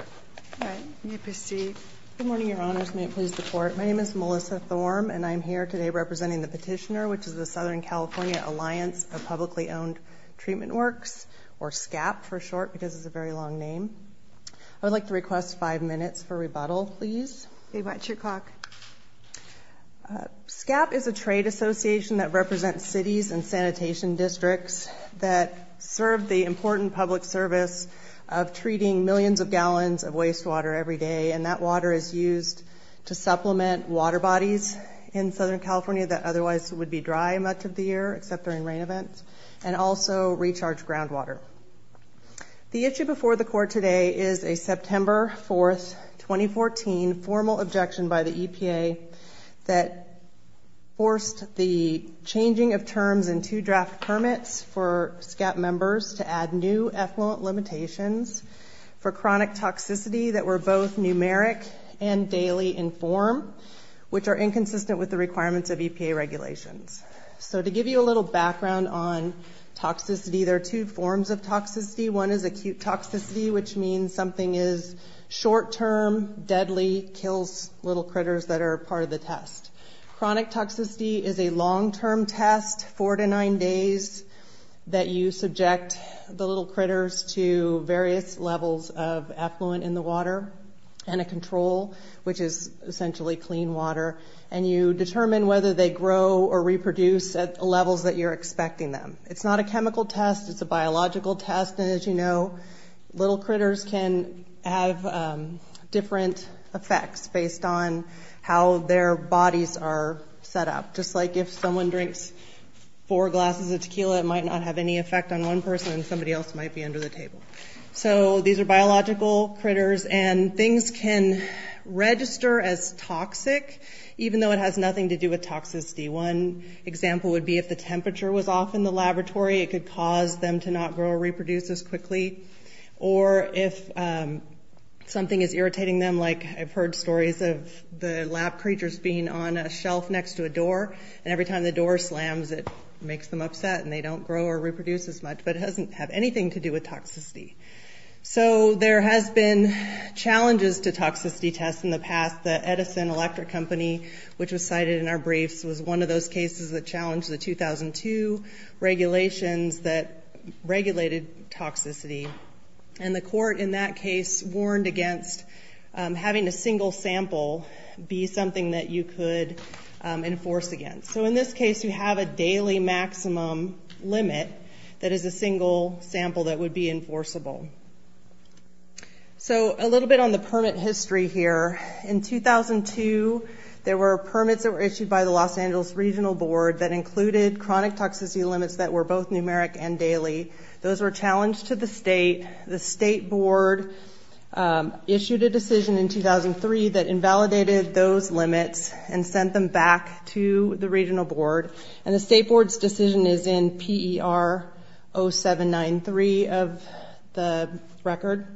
All right, may I proceed? Good morning, Your Honors. May it please the Court? My name is Melissa Thorm, and I'm here today representing the petitioner, which is the Southern California Alliance of Publicly Owned Treatment Works, or SCAP for short, because it's a very long name. I would like to request five minutes for rebuttal, please. Okay, what's your clock? SCAP is a trade association that represents cities and sanitation districts that serve the important public service of treating millions of gallons of wastewater every day, and that water is used to supplement water bodies in Southern California that otherwise would be dry much of the year, except during rain events, and also recharge groundwater. The issue before the Court today is a September 4, 2014, formal objection by the EPA that forced the changing of terms and two draft permits for SCAP members to add new effluent limitations for chronic toxicity that were both numeric and daily in form, which are inconsistent with the requirements of EPA regulations. So to give you a little background on toxicity, there are two forms of toxicity. One is acute toxicity, which means something is short-term, deadly, kills little critters that are part of the test. Chronic toxicity is a long-term test, four to nine days, that you subject the little critters to various levels of effluent in the water, and a control, which is essentially clean water, and you determine whether they grow or reproduce at levels that you're expecting them. It's not a chemical test, it's a biological test, and as you know, little critters can have different effects based on how their bodies are set up. Just like if someone drinks four glasses of tequila, it might not have any effect on one person and somebody else might be under the table. So these are biological critters, and things can register as toxic, even though it has nothing to do with toxicity. One example would be if the temperature was off in the laboratory, it could cause them to not grow or reproduce as quickly, or if something is irritating them, like I've heard stories of the lab creatures being on a shelf next to a door, and every time the door slams, it makes them upset and they don't grow or reproduce as much, but it doesn't have anything to do with toxicity. So there has been challenges to toxicity tests in the past. The Edison Electric Company, which was cited in our briefs, was one of those cases that challenged the 2002 regulations that regulated toxicity, and the court in that case warned against having a single sample be something that you could enforce against. So in this case, you have a daily maximum limit that is a single sample that would be enforceable. So a little bit on the permit history here. In 2002, there were permits that were issued by the Los Angeles Regional Board that included chronic toxicity limits that were both numeric and daily. Those were challenged to the state. The state board issued a decision in 2003 that invalidated those limits and sent them back to the regional board, and the state board's decision is in PER 0793 of the record.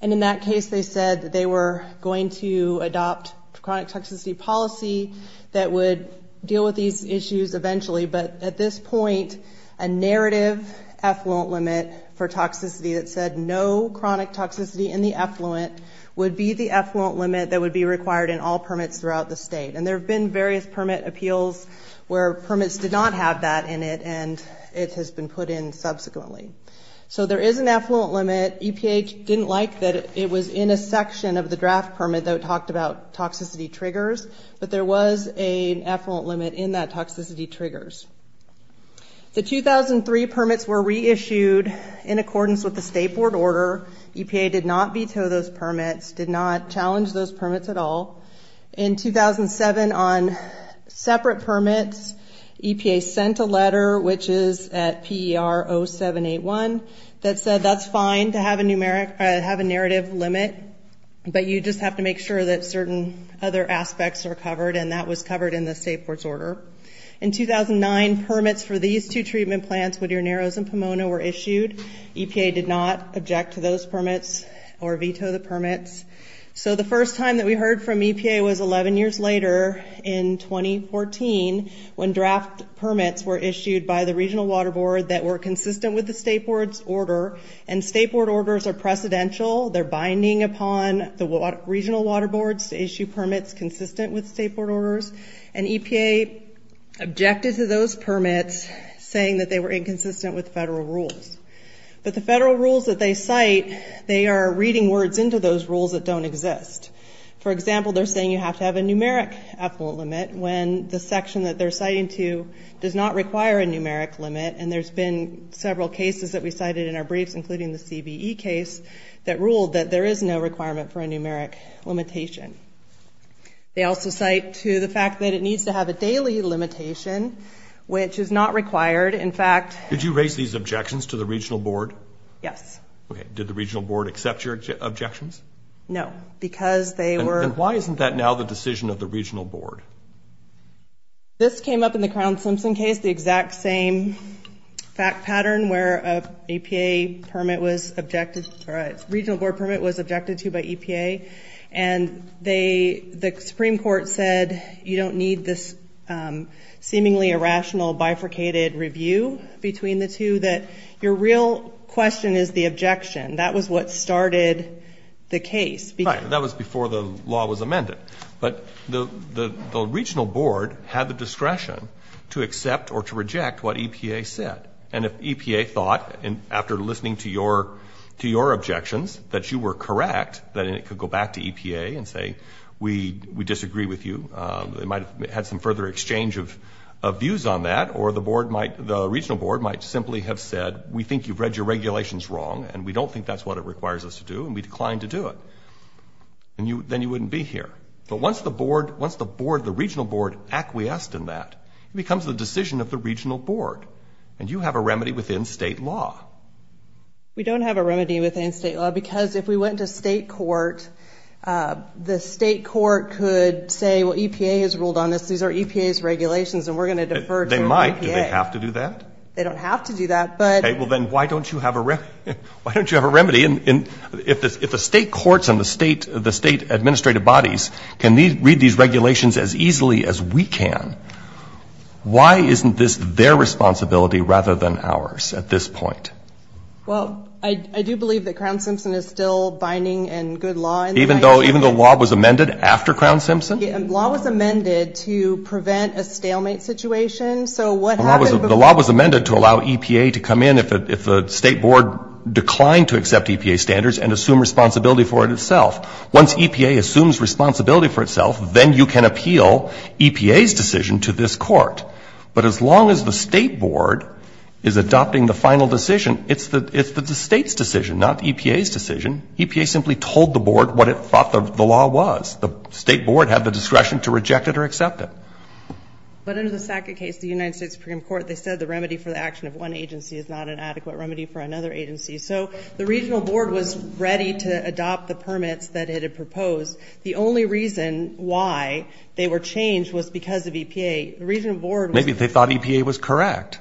And in that case, they said that they were going to adopt chronic toxicity policy that would deal with these issues eventually, but at this point, a narrative effluent limit for toxicity that said no chronic toxicity in the effluent would be the effluent limit that would be required in all permits throughout the state. And there have been various permit appeals where permits did not have that in it, and it has been put in subsequently. So there is an effluent limit. EPA didn't like that it was in a section of the draft permit that talked about toxicity triggers, but there was an effluent limit in that toxicity triggers. The 2003 permits were reissued in accordance with the state board order. EPA did not veto those permits, did not challenge those permits at all. In 2007, on separate permits, EPA sent a letter, which is at PER 0781, that said that's fine to have a narrative limit, but you just have to make sure that certain other aspects are covered, and that was covered in the state board's order. In 2009, permits for these two treatment plants, Whittier Narrows and Pomona, were issued. So the first time that we heard from EPA was 11 years later in 2014 when draft permits were issued by the regional water board that were consistent with the state board's order. And state board orders are precedential. They're binding upon the regional water boards to issue permits consistent with state board orders. And EPA objected to those permits, saying that they were inconsistent with federal rules. But the federal rules that they cite, they are reading words into those rules that don't exist. For example, they're saying you have to have a numeric effluent limit when the section that they're citing to does not require a numeric limit, and there's been several cases that we cited in our briefs, including the CBE case, that ruled that there is no requirement for a numeric limitation. They also cite to the fact that it needs to have a daily limitation, which is not required. Did you raise these objections to the regional board? Yes. Did the regional board accept your objections? No. And why isn't that now the decision of the regional board? This came up in the Crown-Simpson case, the exact same fact pattern where a regional board permit was objected to by EPA. And the Supreme Court said you don't need this seemingly irrational bifurcated review between the two, that your real question is the objection. That was what started the case. Right. That was before the law was amended. But the regional board had the discretion to accept or to reject what EPA said. And if EPA thought, after listening to your objections, that you were correct, then it could go back to EPA and say, we disagree with you. They might have had some further exchange of views on that, or the board might, the regional board might simply have said, we think you've read your regulations wrong, and we don't think that's what it requires us to do, and we decline to do it. Then you wouldn't be here. But once the board, once the board, the regional board acquiesced in that, it becomes the decision of the regional board. And you have a remedy within state law. We don't have a remedy within state law. Because if we went to state court, the state court could say, well, EPA has ruled on this. These are EPA's regulations, and we're going to defer to EPA. They might. Do they have to do that? They don't have to do that. Well, then why don't you have a remedy? If the state courts and the state administrative bodies can read these regulations as easily as we can, why isn't this their responsibility rather than ours at this point? Well, I do believe that Crown Simpson is still binding in good law. Even though law was amended after Crown Simpson? Law was amended to prevent a stalemate situation. So what happened before? The law was amended to allow EPA to come in if the state board declined to accept EPA standards and assume responsibility for it itself. Once EPA assumes responsibility for itself, then you can appeal EPA's decision to this court. But as long as the state board is adopting the final decision, it's the state's decision, not EPA's decision. EPA simply told the board what it thought the law was. The state board had the discretion to reject it or accept it. But under the SACA case, the United States Supreme Court, they said the remedy for the action of one agency is not an adequate remedy for another agency. So the regional board was ready to adopt the permits that it had proposed. The only reason why they were changed was because of EPA. The regional board was... Maybe they thought EPA was correct.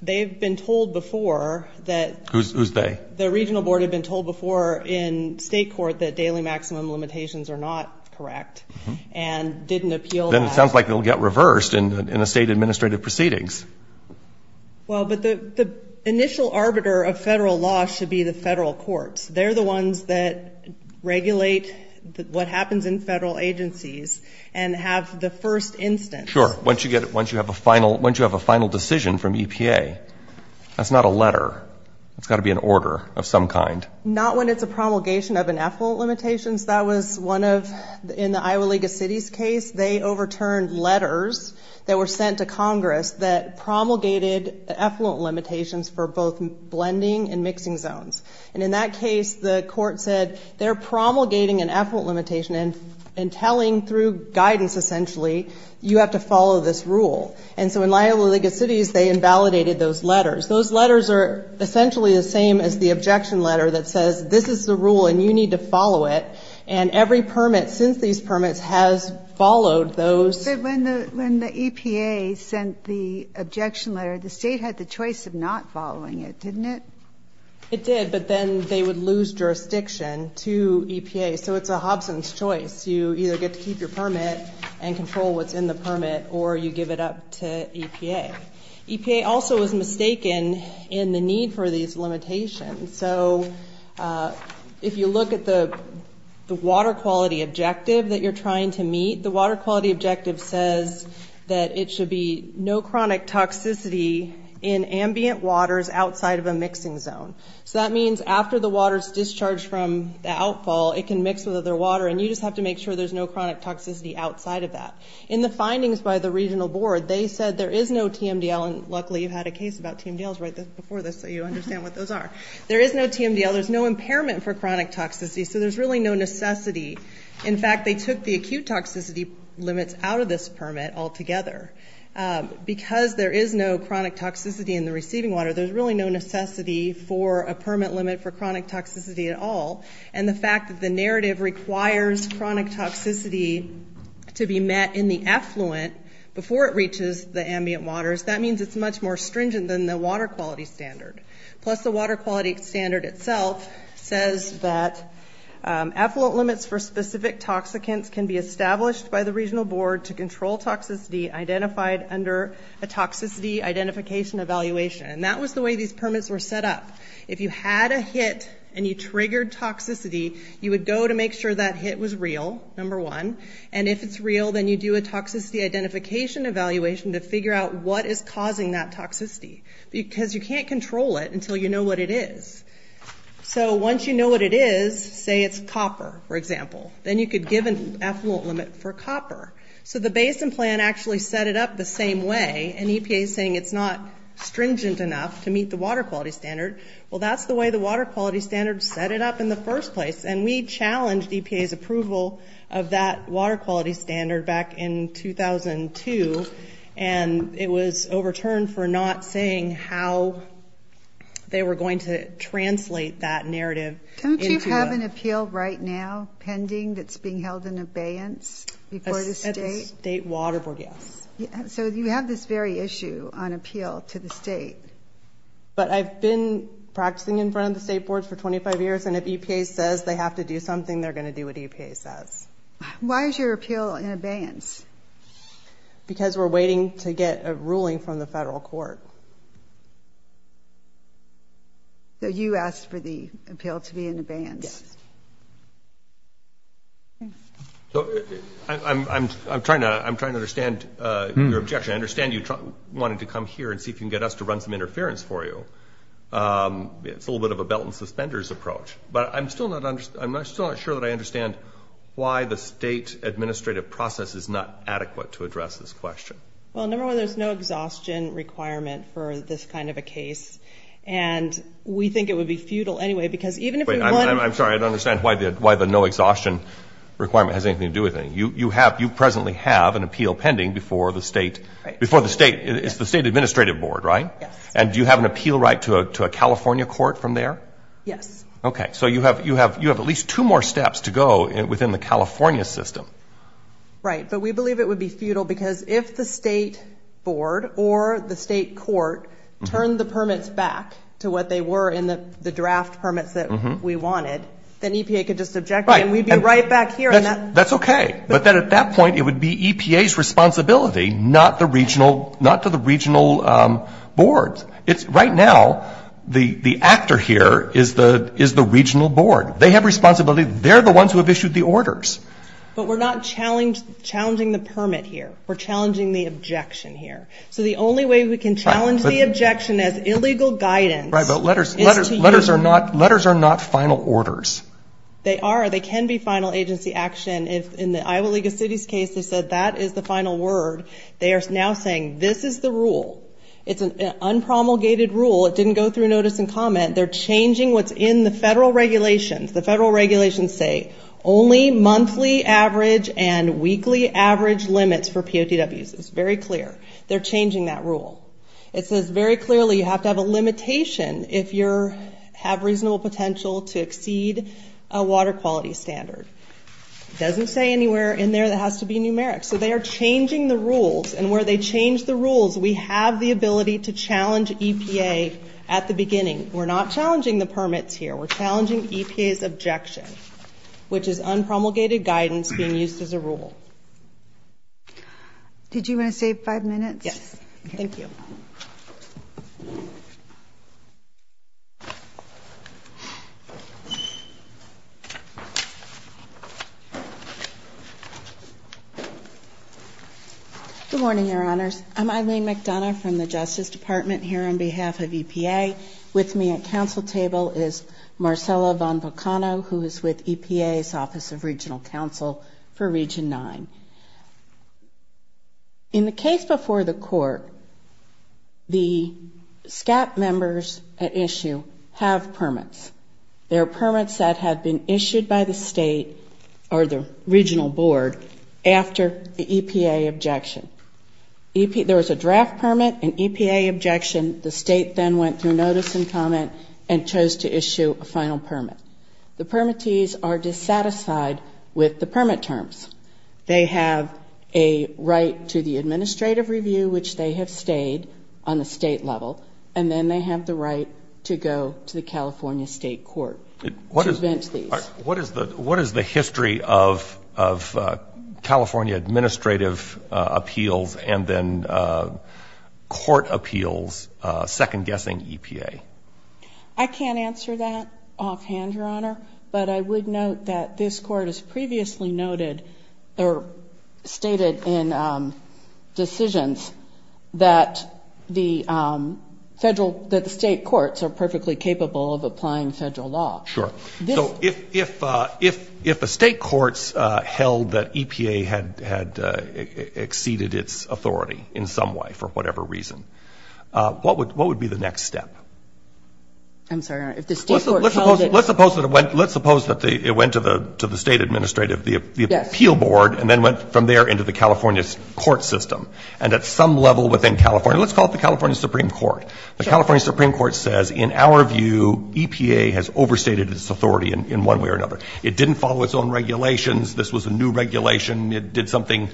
They've been told before that... Who's they? The regional board had been told before in state court that daily maximum limitations are not correct and didn't appeal... Then it sounds like it will get reversed in the state administrative proceedings. Well, but the initial arbiter of federal law should be the federal courts. They're the ones that regulate what happens in federal agencies and have the first instance. Sure. Once you have a final decision from EPA, that's not a letter. It's got to be an order of some kind. Not when it's a promulgation of an effluent limitation. That was one of, in the Iowa League of Cities case, they overturned letters that were sent to Congress that promulgated effluent limitations for both blending and mixing zones. And in that case, the court said they're promulgating an effluent limitation and telling through guidance, essentially, you have to follow this rule. And so in Iowa League of Cities, they invalidated those letters. Those letters are essentially the same as the objection letter that says this is the rule and you need to follow it. And every permit since these permits has followed those. But when the EPA sent the objection letter, the state had the choice of not following it, didn't it? It did, but then they would lose jurisdiction to EPA. So it's a Hobson's choice. You either get to keep your permit and control what's in the permit or you give it up to EPA. EPA also was mistaken in the need for these limitations. And so if you look at the water quality objective that you're trying to meet, the water quality objective says that it should be no chronic toxicity in ambient waters outside of a mixing zone. So that means after the water is discharged from the outfall, it can mix with other water, and you just have to make sure there's no chronic toxicity outside of that. In the findings by the regional board, they said there is no TMDL, and luckily you had a case about TMDLs right before this so you understand what those are. There is no TMDL. There's no impairment for chronic toxicity, so there's really no necessity. In fact, they took the acute toxicity limits out of this permit altogether. Because there is no chronic toxicity in the receiving water, there's really no necessity for a permit limit for chronic toxicity at all. And the fact that the narrative requires chronic toxicity to be met in the effluent before it reaches the ambient waters, that means it's much more stringent than the water quality standard. Plus the water quality standard itself says that effluent limits for specific toxicants can be established by the regional board to control toxicity identified under a toxicity identification evaluation. And that was the way these permits were set up. If you had a hit and you triggered toxicity, you would go to make sure that hit was real, number one, and if it's real, then you do a toxicity identification evaluation to figure out what is causing that toxicity, because you can't control it until you know what it is. So once you know what it is, say it's copper, for example, then you could give an effluent limit for copper. So the basin plan actually set it up the same way, and EPA is saying it's not stringent enough to meet the water quality standard. Well, that's the way the water quality standard set it up in the first place, and we challenged EPA's approval of that water quality standard back in 2002, and it was overturned for not saying how they were going to translate that narrative into a... Don't you have an appeal right now pending that's being held in abeyance before the state? At the state water board, yes. So you have this very issue on appeal to the state. But I've been practicing in front of the state boards for 25 years, and if EPA says they have to do something, they're going to do what EPA says. Why is your appeal in abeyance? Because we're waiting to get a ruling from the federal court. So you asked for the appeal to be in abeyance. Yes. I'm trying to understand your objection. I understand you wanted to come here and see if you can get us to run some interference for you. It's a little bit of a belt and suspenders approach. But I'm still not sure that I understand why the state administrative process is not adequate to address this question. Well, number one, there's no exhaustion requirement for this kind of a case, and we think it would be futile anyway because even if you wanted to... I'm sorry, I don't understand why the no exhaustion requirement has anything to do with anything. You presently have an appeal pending before the state. It's the state administrative board, right? Yes. And do you have an appeal right to a California court from there? Yes. Okay. So you have at least two more steps to go within the California system. Right. But we believe it would be futile because if the state board or the state court turned the permits back to what they were in the draft permits that we wanted, then EPA could just object. Right. And we'd be right back here. That's okay. But then at that point, it would be EPA's responsibility, not to the regional boards. Right now, the actor here is the regional board. They have responsibility. They're the ones who have issued the orders. But we're not challenging the permit here. We're challenging the objection here. So the only way we can challenge the objection as illegal guidance is to use... Right, but letters are not final orders. They are. They can be final agency action. In the Iowa League of Cities case, they said that is the final word. They are now saying this is the rule. It's an unpromulgated rule. It didn't go through notice and comment. They're changing what's in the federal regulations. The federal regulations say only monthly average and weekly average limits for POTWs. It's very clear. They're changing that rule. It says very clearly you have to have a limitation if you have reasonable potential to exceed a water quality standard. It doesn't say anywhere in there that it has to be numeric. So they are changing the rules. And where they change the rules, we have the ability to challenge EPA at the beginning. We're not challenging the permits here. We're challenging EPA's objection, which is unpromulgated guidance being used as a rule. Did you want to save five minutes? Yes. Thank you. Good morning, Your Honors. I'm Eileen McDonough from the Justice Department here on behalf of EPA. With me at council table is Marcella Von Volcano, who is with EPA's Office of Regional Counsel for Region 9. In the case before the court, the SCAP members at issue have permits. There are permits that had been issued by the state or the regional board after the EPA objection. There was a draft permit, an EPA objection. The state then went through notice and comment and chose to issue a final permit. The permittees are dissatisfied with the permit terms. They have a right to the administrative review, which they have stayed on the state level, and then they have the right to go to the California State Court to avenge these. What is the history of California administrative appeals and then court appeals second-guessing EPA? I can't answer that offhand, Your Honor. But I would note that this court has previously noted or stated in decisions that the federal, that the state courts are perfectly capable of applying federal law. Sure. So if a state court held that EPA had exceeded its authority in some way for whatever reason, what would be the next step? I'm sorry, Your Honor. Let's suppose that it went to the state administrative, the appeal board, and then went from there into the California court system. And at some level within California, let's call it the California Supreme Court. The California Supreme Court says, in our view, EPA has overstated its authority in one way or another. It didn't follow its own regulations. This was a new regulation. It did something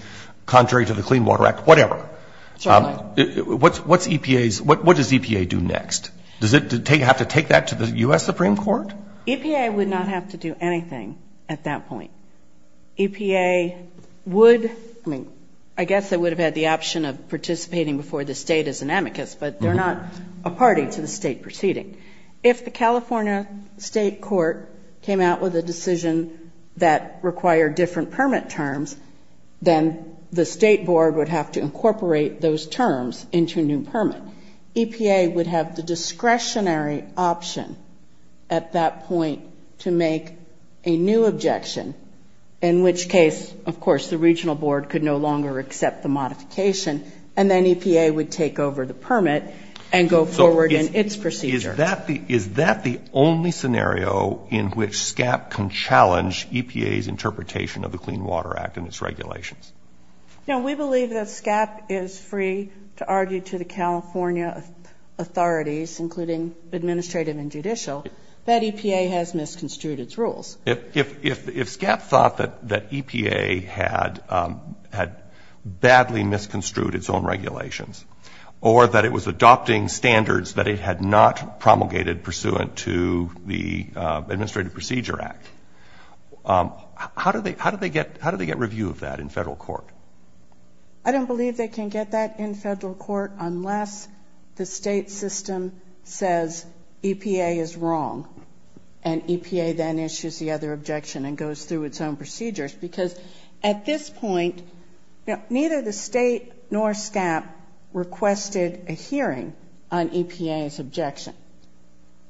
contrary to the Clean Water Act, whatever. What does EPA do next? Does it have to take that to the U.S. Supreme Court? EPA would not have to do anything at that point. EPA would, I mean, I guess it would have had the option of participating before the state as an amicus, but they're not a party to the state proceeding. If the California state court came out with a decision that required different permit terms, then the state board would have to incorporate those terms into a new permit. EPA would have the discretionary option at that point to make a new objection, in which case, of course, the regional board could no longer accept the modification, and then EPA would take over the permit and go forward in its procedure. Is that the only scenario in which SCAP can challenge EPA's interpretation of the Clean Water Act and its regulations? No, we believe that SCAP is free to argue to the California authorities, including administrative and judicial, that EPA has misconstrued its rules. If SCAP thought that EPA had badly misconstrued its own regulations or that it was adopting standards that it had not promulgated pursuant to the Administrative Procedure Act, how do they get review of that in federal court? I don't believe they can get that in federal court unless the state system says EPA is wrong and EPA then issues the other objection and goes through its own procedures. Because at this point, neither the state nor SCAP requested a hearing on EPA's objection.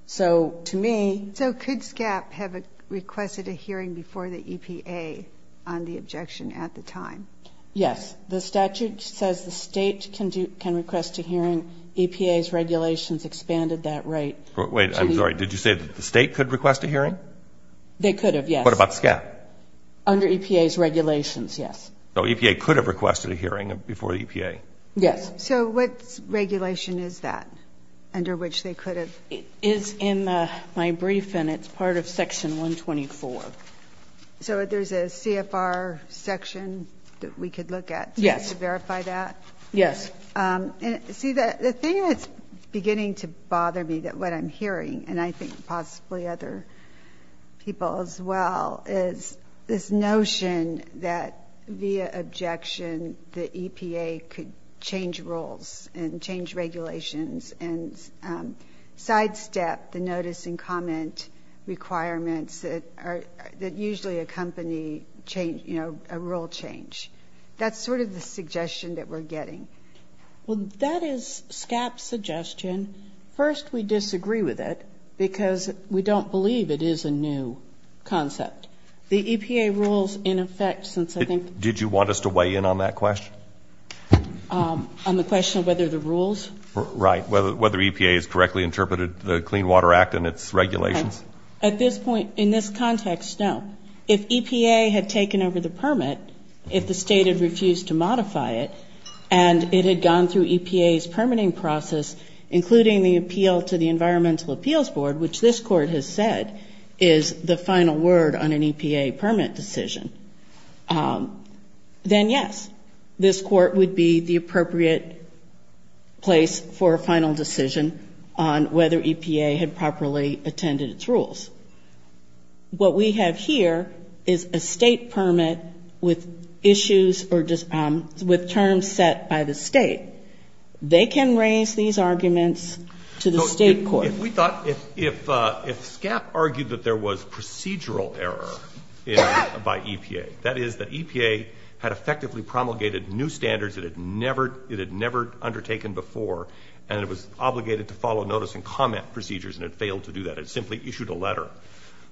So could SCAP have requested a hearing before the EPA on the objection at the time? Yes. The statute says the state can request a hearing. EPA's regulations expanded that right. Wait. I'm sorry. Did you say that the state could request a hearing? They could have, yes. What about SCAP? Under EPA's regulations, yes. So EPA could have requested a hearing before the EPA? Yes. So what regulation is that under which they could have? It is in my brief, and it's part of Section 124. So there's a CFR section that we could look at to verify that? Yes. Yes. See, the thing that's beginning to bother me, what I'm hearing, and I think possibly other people as well, is this notion that via objection the EPA could change rules and change regulations and sidestep the notice and comment requirements that usually accompany, you know, a rule change. That's sort of the suggestion that we're getting. Well, that is SCAP's suggestion. First, we disagree with it because we don't believe it is a new concept. The EPA rules, in effect, since I think the ---- Did you want us to weigh in on that question? On the question of whether the rules? Right. Whether EPA has correctly interpreted the Clean Water Act and its regulations. At this point, in this context, no. If EPA had taken over the permit, if the state had refused to modify it, and it had gone through EPA's permitting process, including the appeal to the Environmental Appeals Board, which this court has said is the final word on an EPA permit decision, then yes, this court would be the appropriate place for a final decision on whether EPA had properly attended its rules. What we have here is a state permit with issues or just with terms set by the state. They can raise these arguments to the state court. So if we thought ---- If SCAP argued that there was procedural error by EPA, that is that EPA had effectively promulgated new standards that it had never undertaken before, and it was obligated to follow notice and comment procedures, and it failed to do that. It simply issued a letter.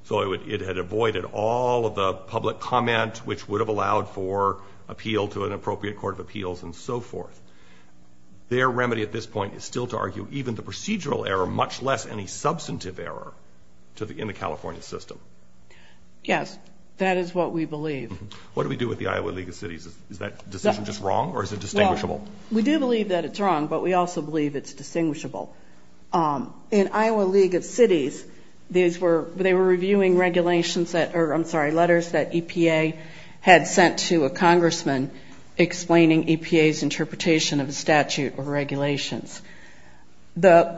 So it had avoided all of the public comment, which would have allowed for appeal to an appropriate court of appeals and so forth. Their remedy at this point is still to argue even the procedural error, much less any substantive error in the California system. Yes, that is what we believe. What do we do with the Iowa League of Cities? Is that decision just wrong, or is it distinguishable? Well, we do believe that it's wrong, but we also believe it's distinguishable. In Iowa League of Cities, these were ---- They were reviewing regulations that ---- I'm sorry, letters that EPA had sent to a congressman explaining EPA's interpretation of a statute or regulations. The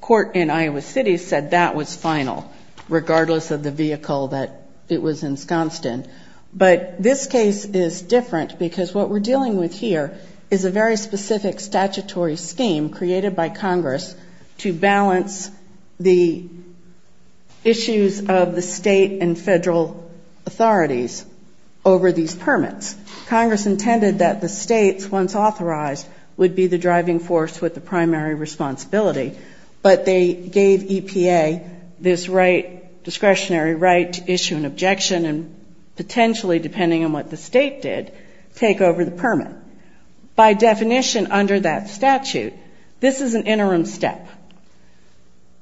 court in Iowa City said that was final, regardless of the vehicle that it was ensconced in. But this case is different because what we're dealing with here is a very specific statutory scheme created by Congress to balance the issues of the state and federal authorities over these permits. Congress intended that the states, once authorized, would be the driving force with the primary responsibility, but they gave EPA this discretionary right to issue an objection and potentially, depending on what the state did, take over the permit. By definition, under that statute, this is an interim step.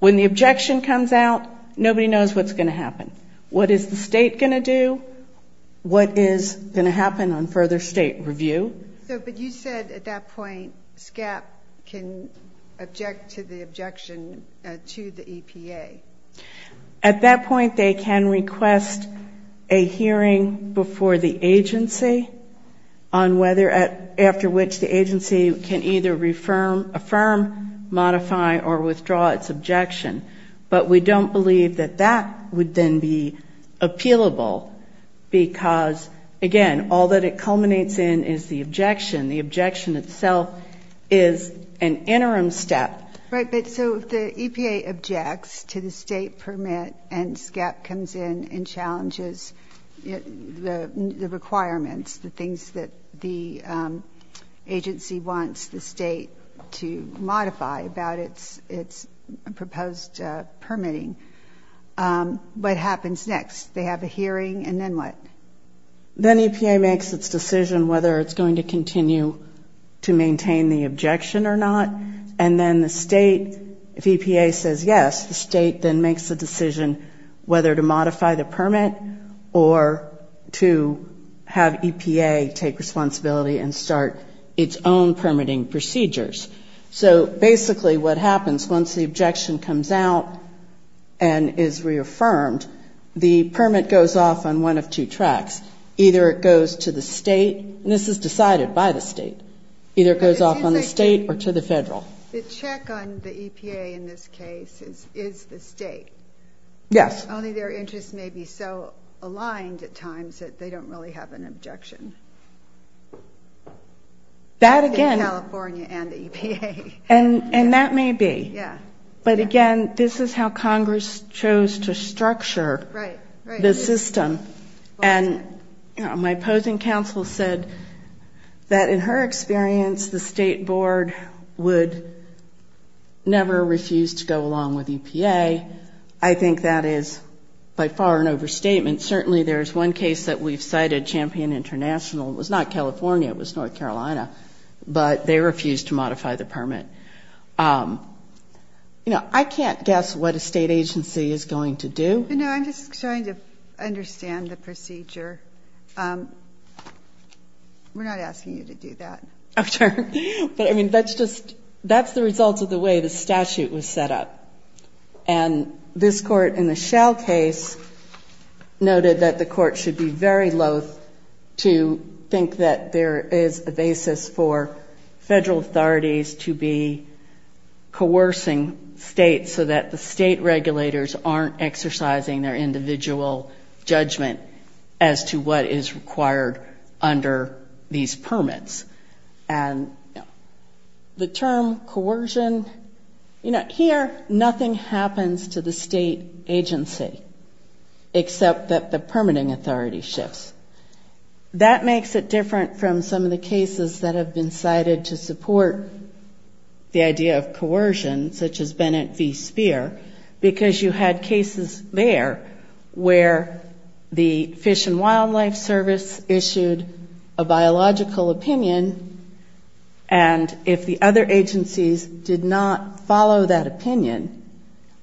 When the objection comes out, nobody knows what's going to happen. What is the state going to do? What is going to happen on further state review? But you said at that point, SCAP can object to the objection to the EPA. At that point, they can request a hearing before the agency on whether after which the agency can either affirm, modify, or withdraw its objection. But we don't believe that that would then be appealable because, again, all that it culminates in is the objection. The objection itself is an interim step. Right, but so if the EPA objects to the state permit and SCAP comes in and challenges the requirements, the things that the agency wants the state to modify about its proposed permitting, what happens next? They have a hearing, and then what? Then EPA makes its decision whether it's going to continue to maintain the objection or not, and then the state, if EPA says yes, the state then makes a decision whether to modify the permit or to have EPA take responsibility and start its own permitting procedures. So basically what happens, once the objection comes out and is reaffirmed, the permit goes off on one of two tracks. Either it goes to the state, and this is decided by the state. Either it goes off on the state or to the federal. The check on the EPA in this case is the state. Yes. Only their interests may be so aligned at times that they don't really have an objection in California and the EPA. And that may be. Yeah. But, again, this is how Congress chose to structure the system. And my opposing counsel said that, in her experience, the state board would never refuse to go along with EPA. I think that is by far an overstatement. Certainly there's one case that we've cited, Champion International. It was not California. It was North Carolina. But they refused to modify the permit. You know, I can't guess what a state agency is going to do. No, I'm just trying to understand the procedure. We're not asking you to do that. Oh, sure. But, I mean, that's just the result of the way the statute was set up. And this Court, in the Schell case, noted that the Court should be very loath to think that there is a basis for federal authorities to be coercing states so that the state regulators aren't exercising their individual judgment as to what is required under these permits. And the term coercion, you know, here nothing happens to the state agency except that the permitting authority shifts. That makes it different from some of the cases that have been cited to where the Fish and Wildlife Service issued a biological opinion, and if the other agencies did not follow that opinion,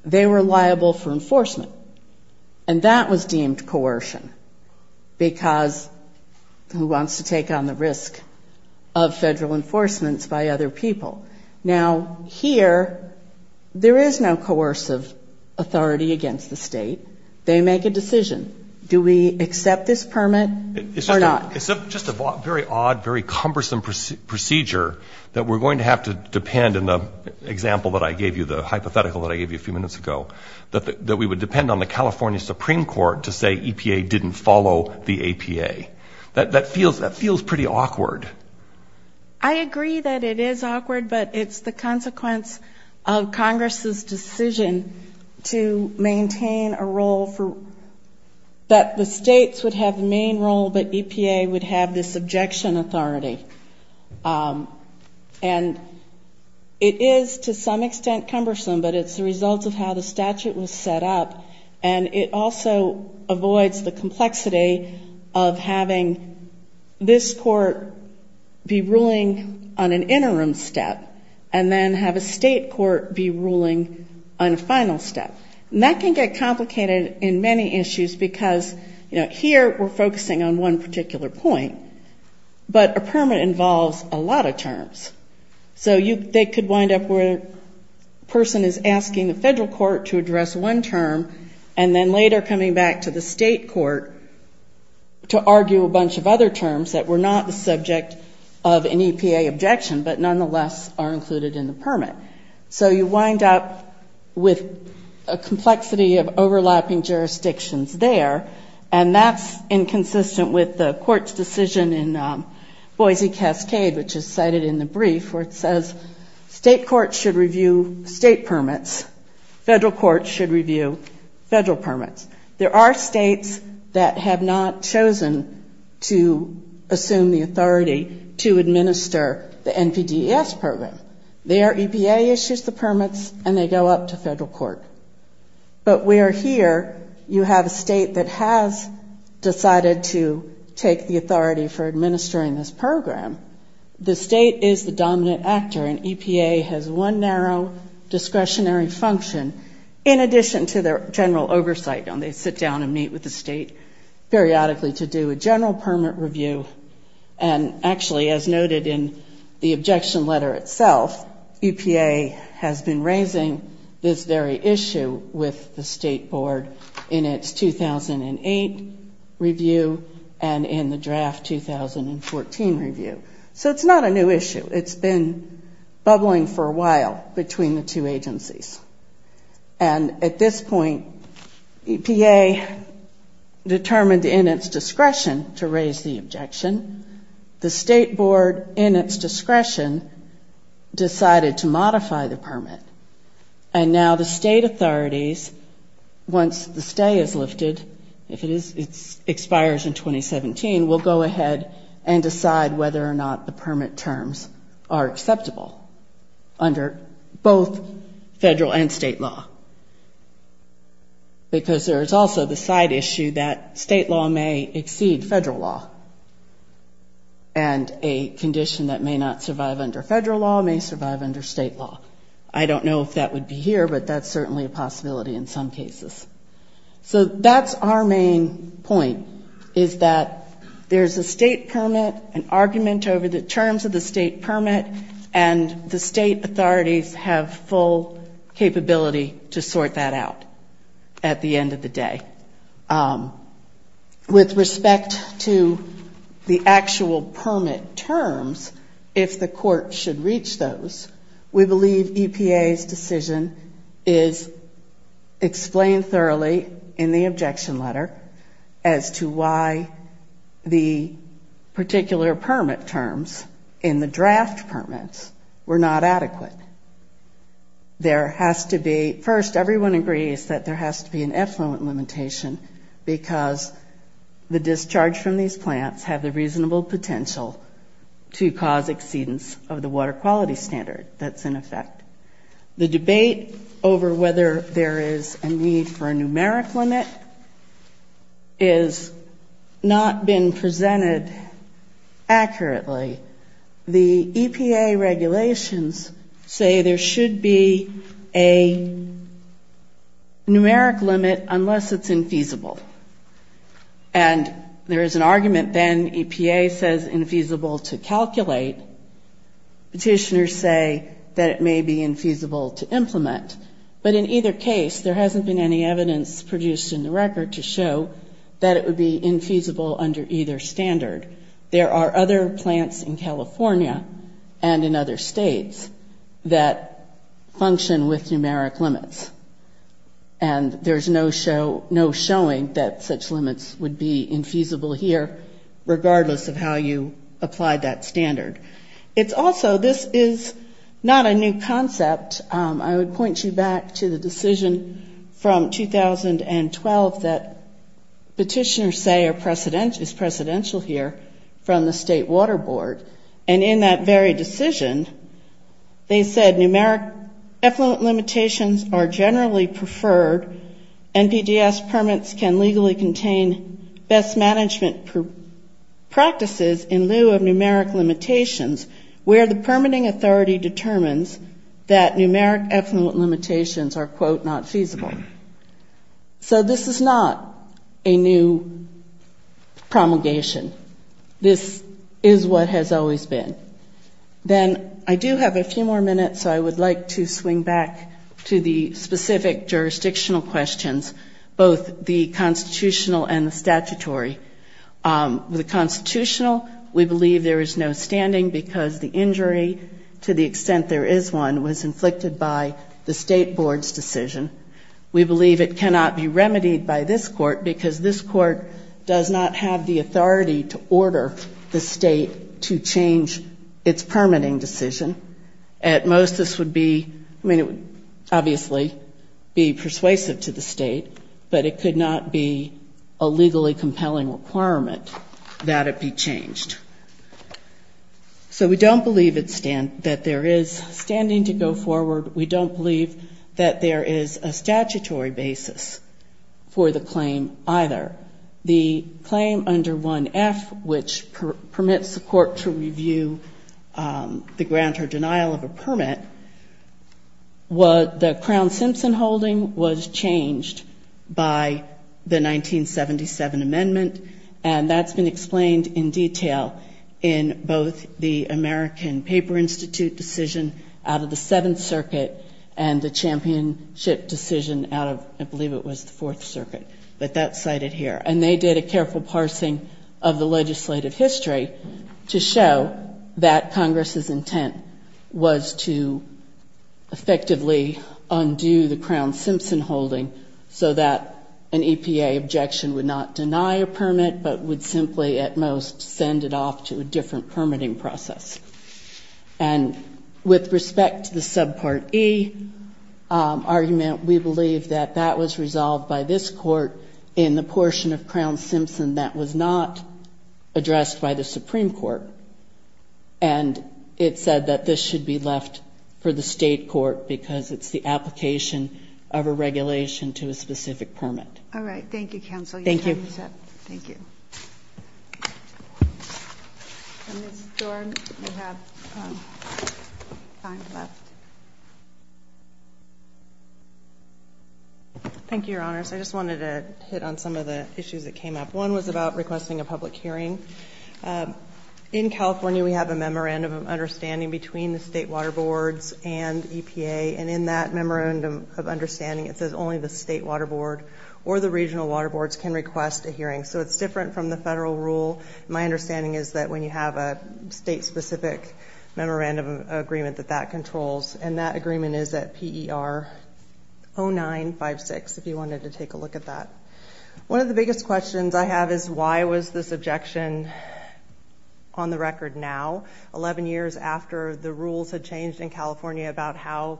they were liable for enforcement. And that was deemed coercion because who wants to take on the risk of federal enforcements by other people? Now, here, there is no coercive authority against the state. They make a decision. Do we accept this permit or not? It's just a very odd, very cumbersome procedure that we're going to have to depend, in the example that I gave you, the hypothetical that I gave you a few minutes ago, that we would depend on the California Supreme Court to say EPA didn't follow the APA. That feels pretty awkward. I agree that it is awkward, but it's the consequence of Congress's decision to maintain a role for, that the states would have the main role, but EPA would have this objection authority. And it is to some extent cumbersome, but it's the result of how the statute was set up, and it also avoids the complexity of having this court be ruling on an interim step and then have a state court be ruling on a final step. And that can get complicated in many issues because, you know, here we're focusing on one particular point, but a permit involves a lot of terms. So they could wind up where a person is asking the federal court to address one term and then later coming back to the state court to argue a bunch of other terms that were not the subject of an EPA objection, but nonetheless are included in the permit. So you wind up with a complexity of overlapping jurisdictions there, and that's inconsistent with the court's decision in Boise Cascade, which is cited in the brief, where it says state courts should review state permits, federal courts should review federal permits. There are states that have not chosen to assume the authority to administer the NPDES program. There EPA issues the permits and they go up to federal court. But where here you have a state that has decided to take the authority for administering this program, the state is the dominant actor, and EPA has one narrow discretionary function in addition to their general oversight. They sit down and meet with the state periodically to do a general permit review. And actually as noted in the objection letter itself, EPA has been raising this very issue with the state board in its 2008 review and in the draft 2014 review. So it's not a new issue. It's been bubbling for a while between the two agencies. And at this point EPA determined in its discretion to raise the objection. The state board in its discretion decided to modify the permit. And now the state authorities, once the stay is lifted, if it expires in 2017, will go ahead and decide whether or not the permit terms are acceptable under both federal and state law. Because there is also the side issue that state law may exceed federal law. And a condition that may not survive under federal law may survive under state law. I don't know if that would be here, but that's certainly a possibility in some cases. So that's our main point is that there's a state permit, an argument over the terms of the state permit, and the state authorities have full capability to sort that out at the end of the day. With respect to the actual permit terms, if the court should reach those, we believe EPA's decision is explained thoroughly in the objection letter as to why the particular permit terms in the draft permits were not adequate. First, everyone agrees that there has to be an effluent limitation because the discharge from these plants have the reasonable potential to cause exceedance of the water quality standard that's in effect. The debate over whether there is a need for a numeric limit is not been presented accurately. The EPA regulations say there should be a numeric limit unless it's infeasible. And there is an argument then EPA says infeasible to calculate, petitioners say that it may be infeasible to implement, but in either case there hasn't been any evidence produced in the record to show that it would be infeasible under either standard. There are other plants in California and in other states that function with numeric limits and there's no showing that such limits would be infeasible here regardless of how you apply that standard. It's also, this is not a new concept. I would point you back to the decision from 2012 that petitioners say is presidential here from the state water board. And in that very decision they said numeric effluent limitations are generally preferred. NPDES permits can legally contain best management practices in lieu of numeric limitations where the permitting authority determines that numeric effluent limitations are, quote, not feasible. So this is not a new promulgation. This is what has always been. Then I do have a few more minutes so I would like to swing back to the specific jurisdictional questions, both the constitutional and the statutory. The constitutional, we believe there is no standing because the injury to the extent there is one was inflicted by the state board's decision. We believe it cannot be remedied by this court because this court does not have the authority to order the state to change its permitting decision. At most this would be, I mean, it would obviously be persuasive to the state, but it could not be a legally compelling requirement that it be changed. So we don't believe that there is standing to go forward. We don't believe that there is a statutory basis for the claim either. The claim under 1F, which permits the court to review the grant or decision under the denial of a permit, the Crown-Simpson holding was changed by the 1977 amendment, and that's been explained in detail in both the American Paper Institute decision out of the Seventh Circuit and the championship decision out of, I believe it was the Fourth Circuit, but that's cited here. And they did a careful parsing of the legislative history to show that this was to effectively undo the Crown-Simpson holding so that an EPA objection would not deny a permit, but would simply at most send it off to a different permitting process. And with respect to the subpart E argument, we believe that that was resolved by this court in the portion of Crown-Simpson that was not And we believe that it should be left for the State court because it's the application of a regulation to a specific permit. All right. Thank you, counsel. Thank you. Your time is up. Thank you. Ms. Dorn, you have time left. Thank you, Your Honors. I just wanted to hit on some of the issues that came up. One was about requesting a public hearing. In California, we have a memorandum of understanding between the State water boards and EPA. And in that memorandum of understanding, it says only the State water board or the regional water boards can request a hearing. So it's different from the federal rule. My understanding is that when you have a State-specific memorandum agreement that that controls, and that agreement is at PER 0956, if you wanted to take a look at that. One of the biggest questions I have is why was this objection on the record now? Eleven years after the rules had changed in California about how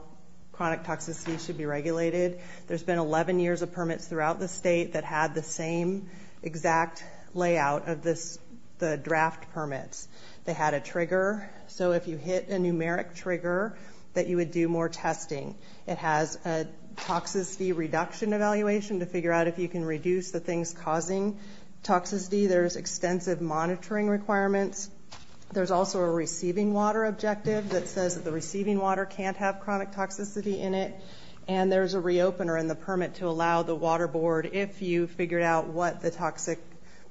chronic toxicity should be regulated, there's been 11 years of permits throughout the State that had the same exact layout of the draft permits. They had a trigger. So if you hit a numeric trigger, that you would do more testing. It has a toxicity reduction evaluation to figure out if you can reduce the things causing toxicity. There's extensive monitoring requirements. There's also a receiving water objective that says that the receiving water can't have chronic toxicity in it. And there's a reopener in the permit to allow the water board, if you figured out what the toxic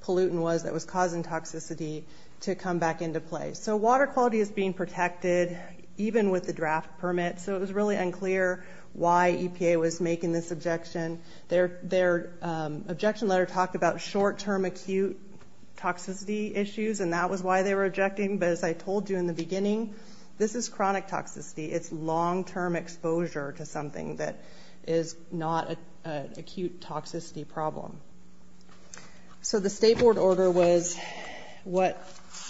pollutant was that was causing toxicity, to come back into play. So water quality is being protected, even with the draft permit. So it was really unclear why EPA was making this objection. Their objection letter talked about short-term acute toxicity issues, and that was why they were objecting. But as I told you in the beginning, this is chronic toxicity. It's long-term exposure to something that is not an acute toxicity problem. So the state board order was what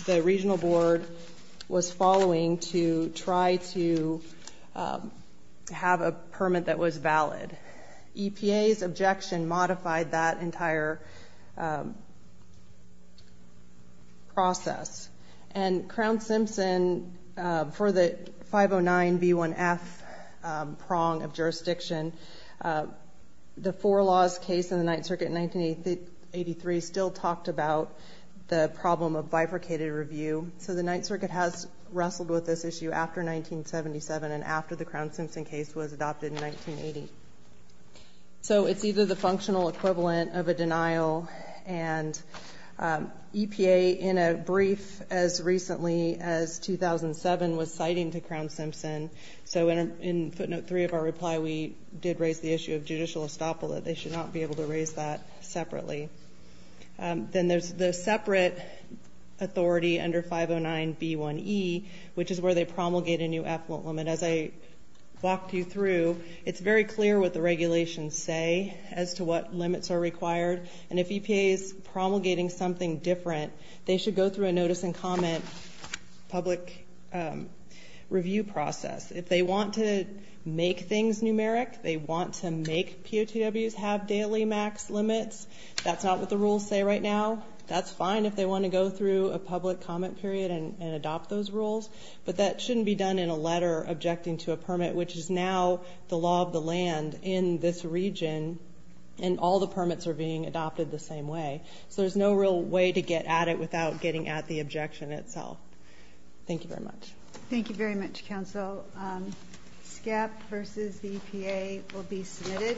the regional board was following to try to have a permit that was valid. EPA's objection modified that entire process. And Crown-Simpson, for the 509B1F prong of jurisdiction, the Four Laws case in the Ninth Circuit in 1983 still talked about the problem of bifurcated review. So the Ninth Circuit has wrestled with this issue after 1977 and after the Crown-Simpson case was adopted in 1980. So it's either the functional equivalent of a denial, and EPA, in a brief as recently as 2007, was citing to Crown-Simpson. So in footnote 3 of our reply, we did raise the issue of judicial estoppel. They should not be able to raise that separately. Then there's the separate authority under 509B1E, which is where they promulgate a new effluent limit. As I walked you through, it's very clear what the regulations say as to what limits are required. And if EPA is promulgating something different, they should go through a notice and comment public review process. If they want to make things numeric, they want to make POTWs have daily max limits, that's not what the rules say right now. That's fine if they want to go through a public comment period and adopt those rules, but that shouldn't be done in a letter objecting to a permit, which is now the law of the land in this region, and all the permits are being adopted the same way. So there's no real way to get at it without getting at the objection itself. Thank you very much. Thank you very much, counsel. SCAP versus the EPA will be submitted.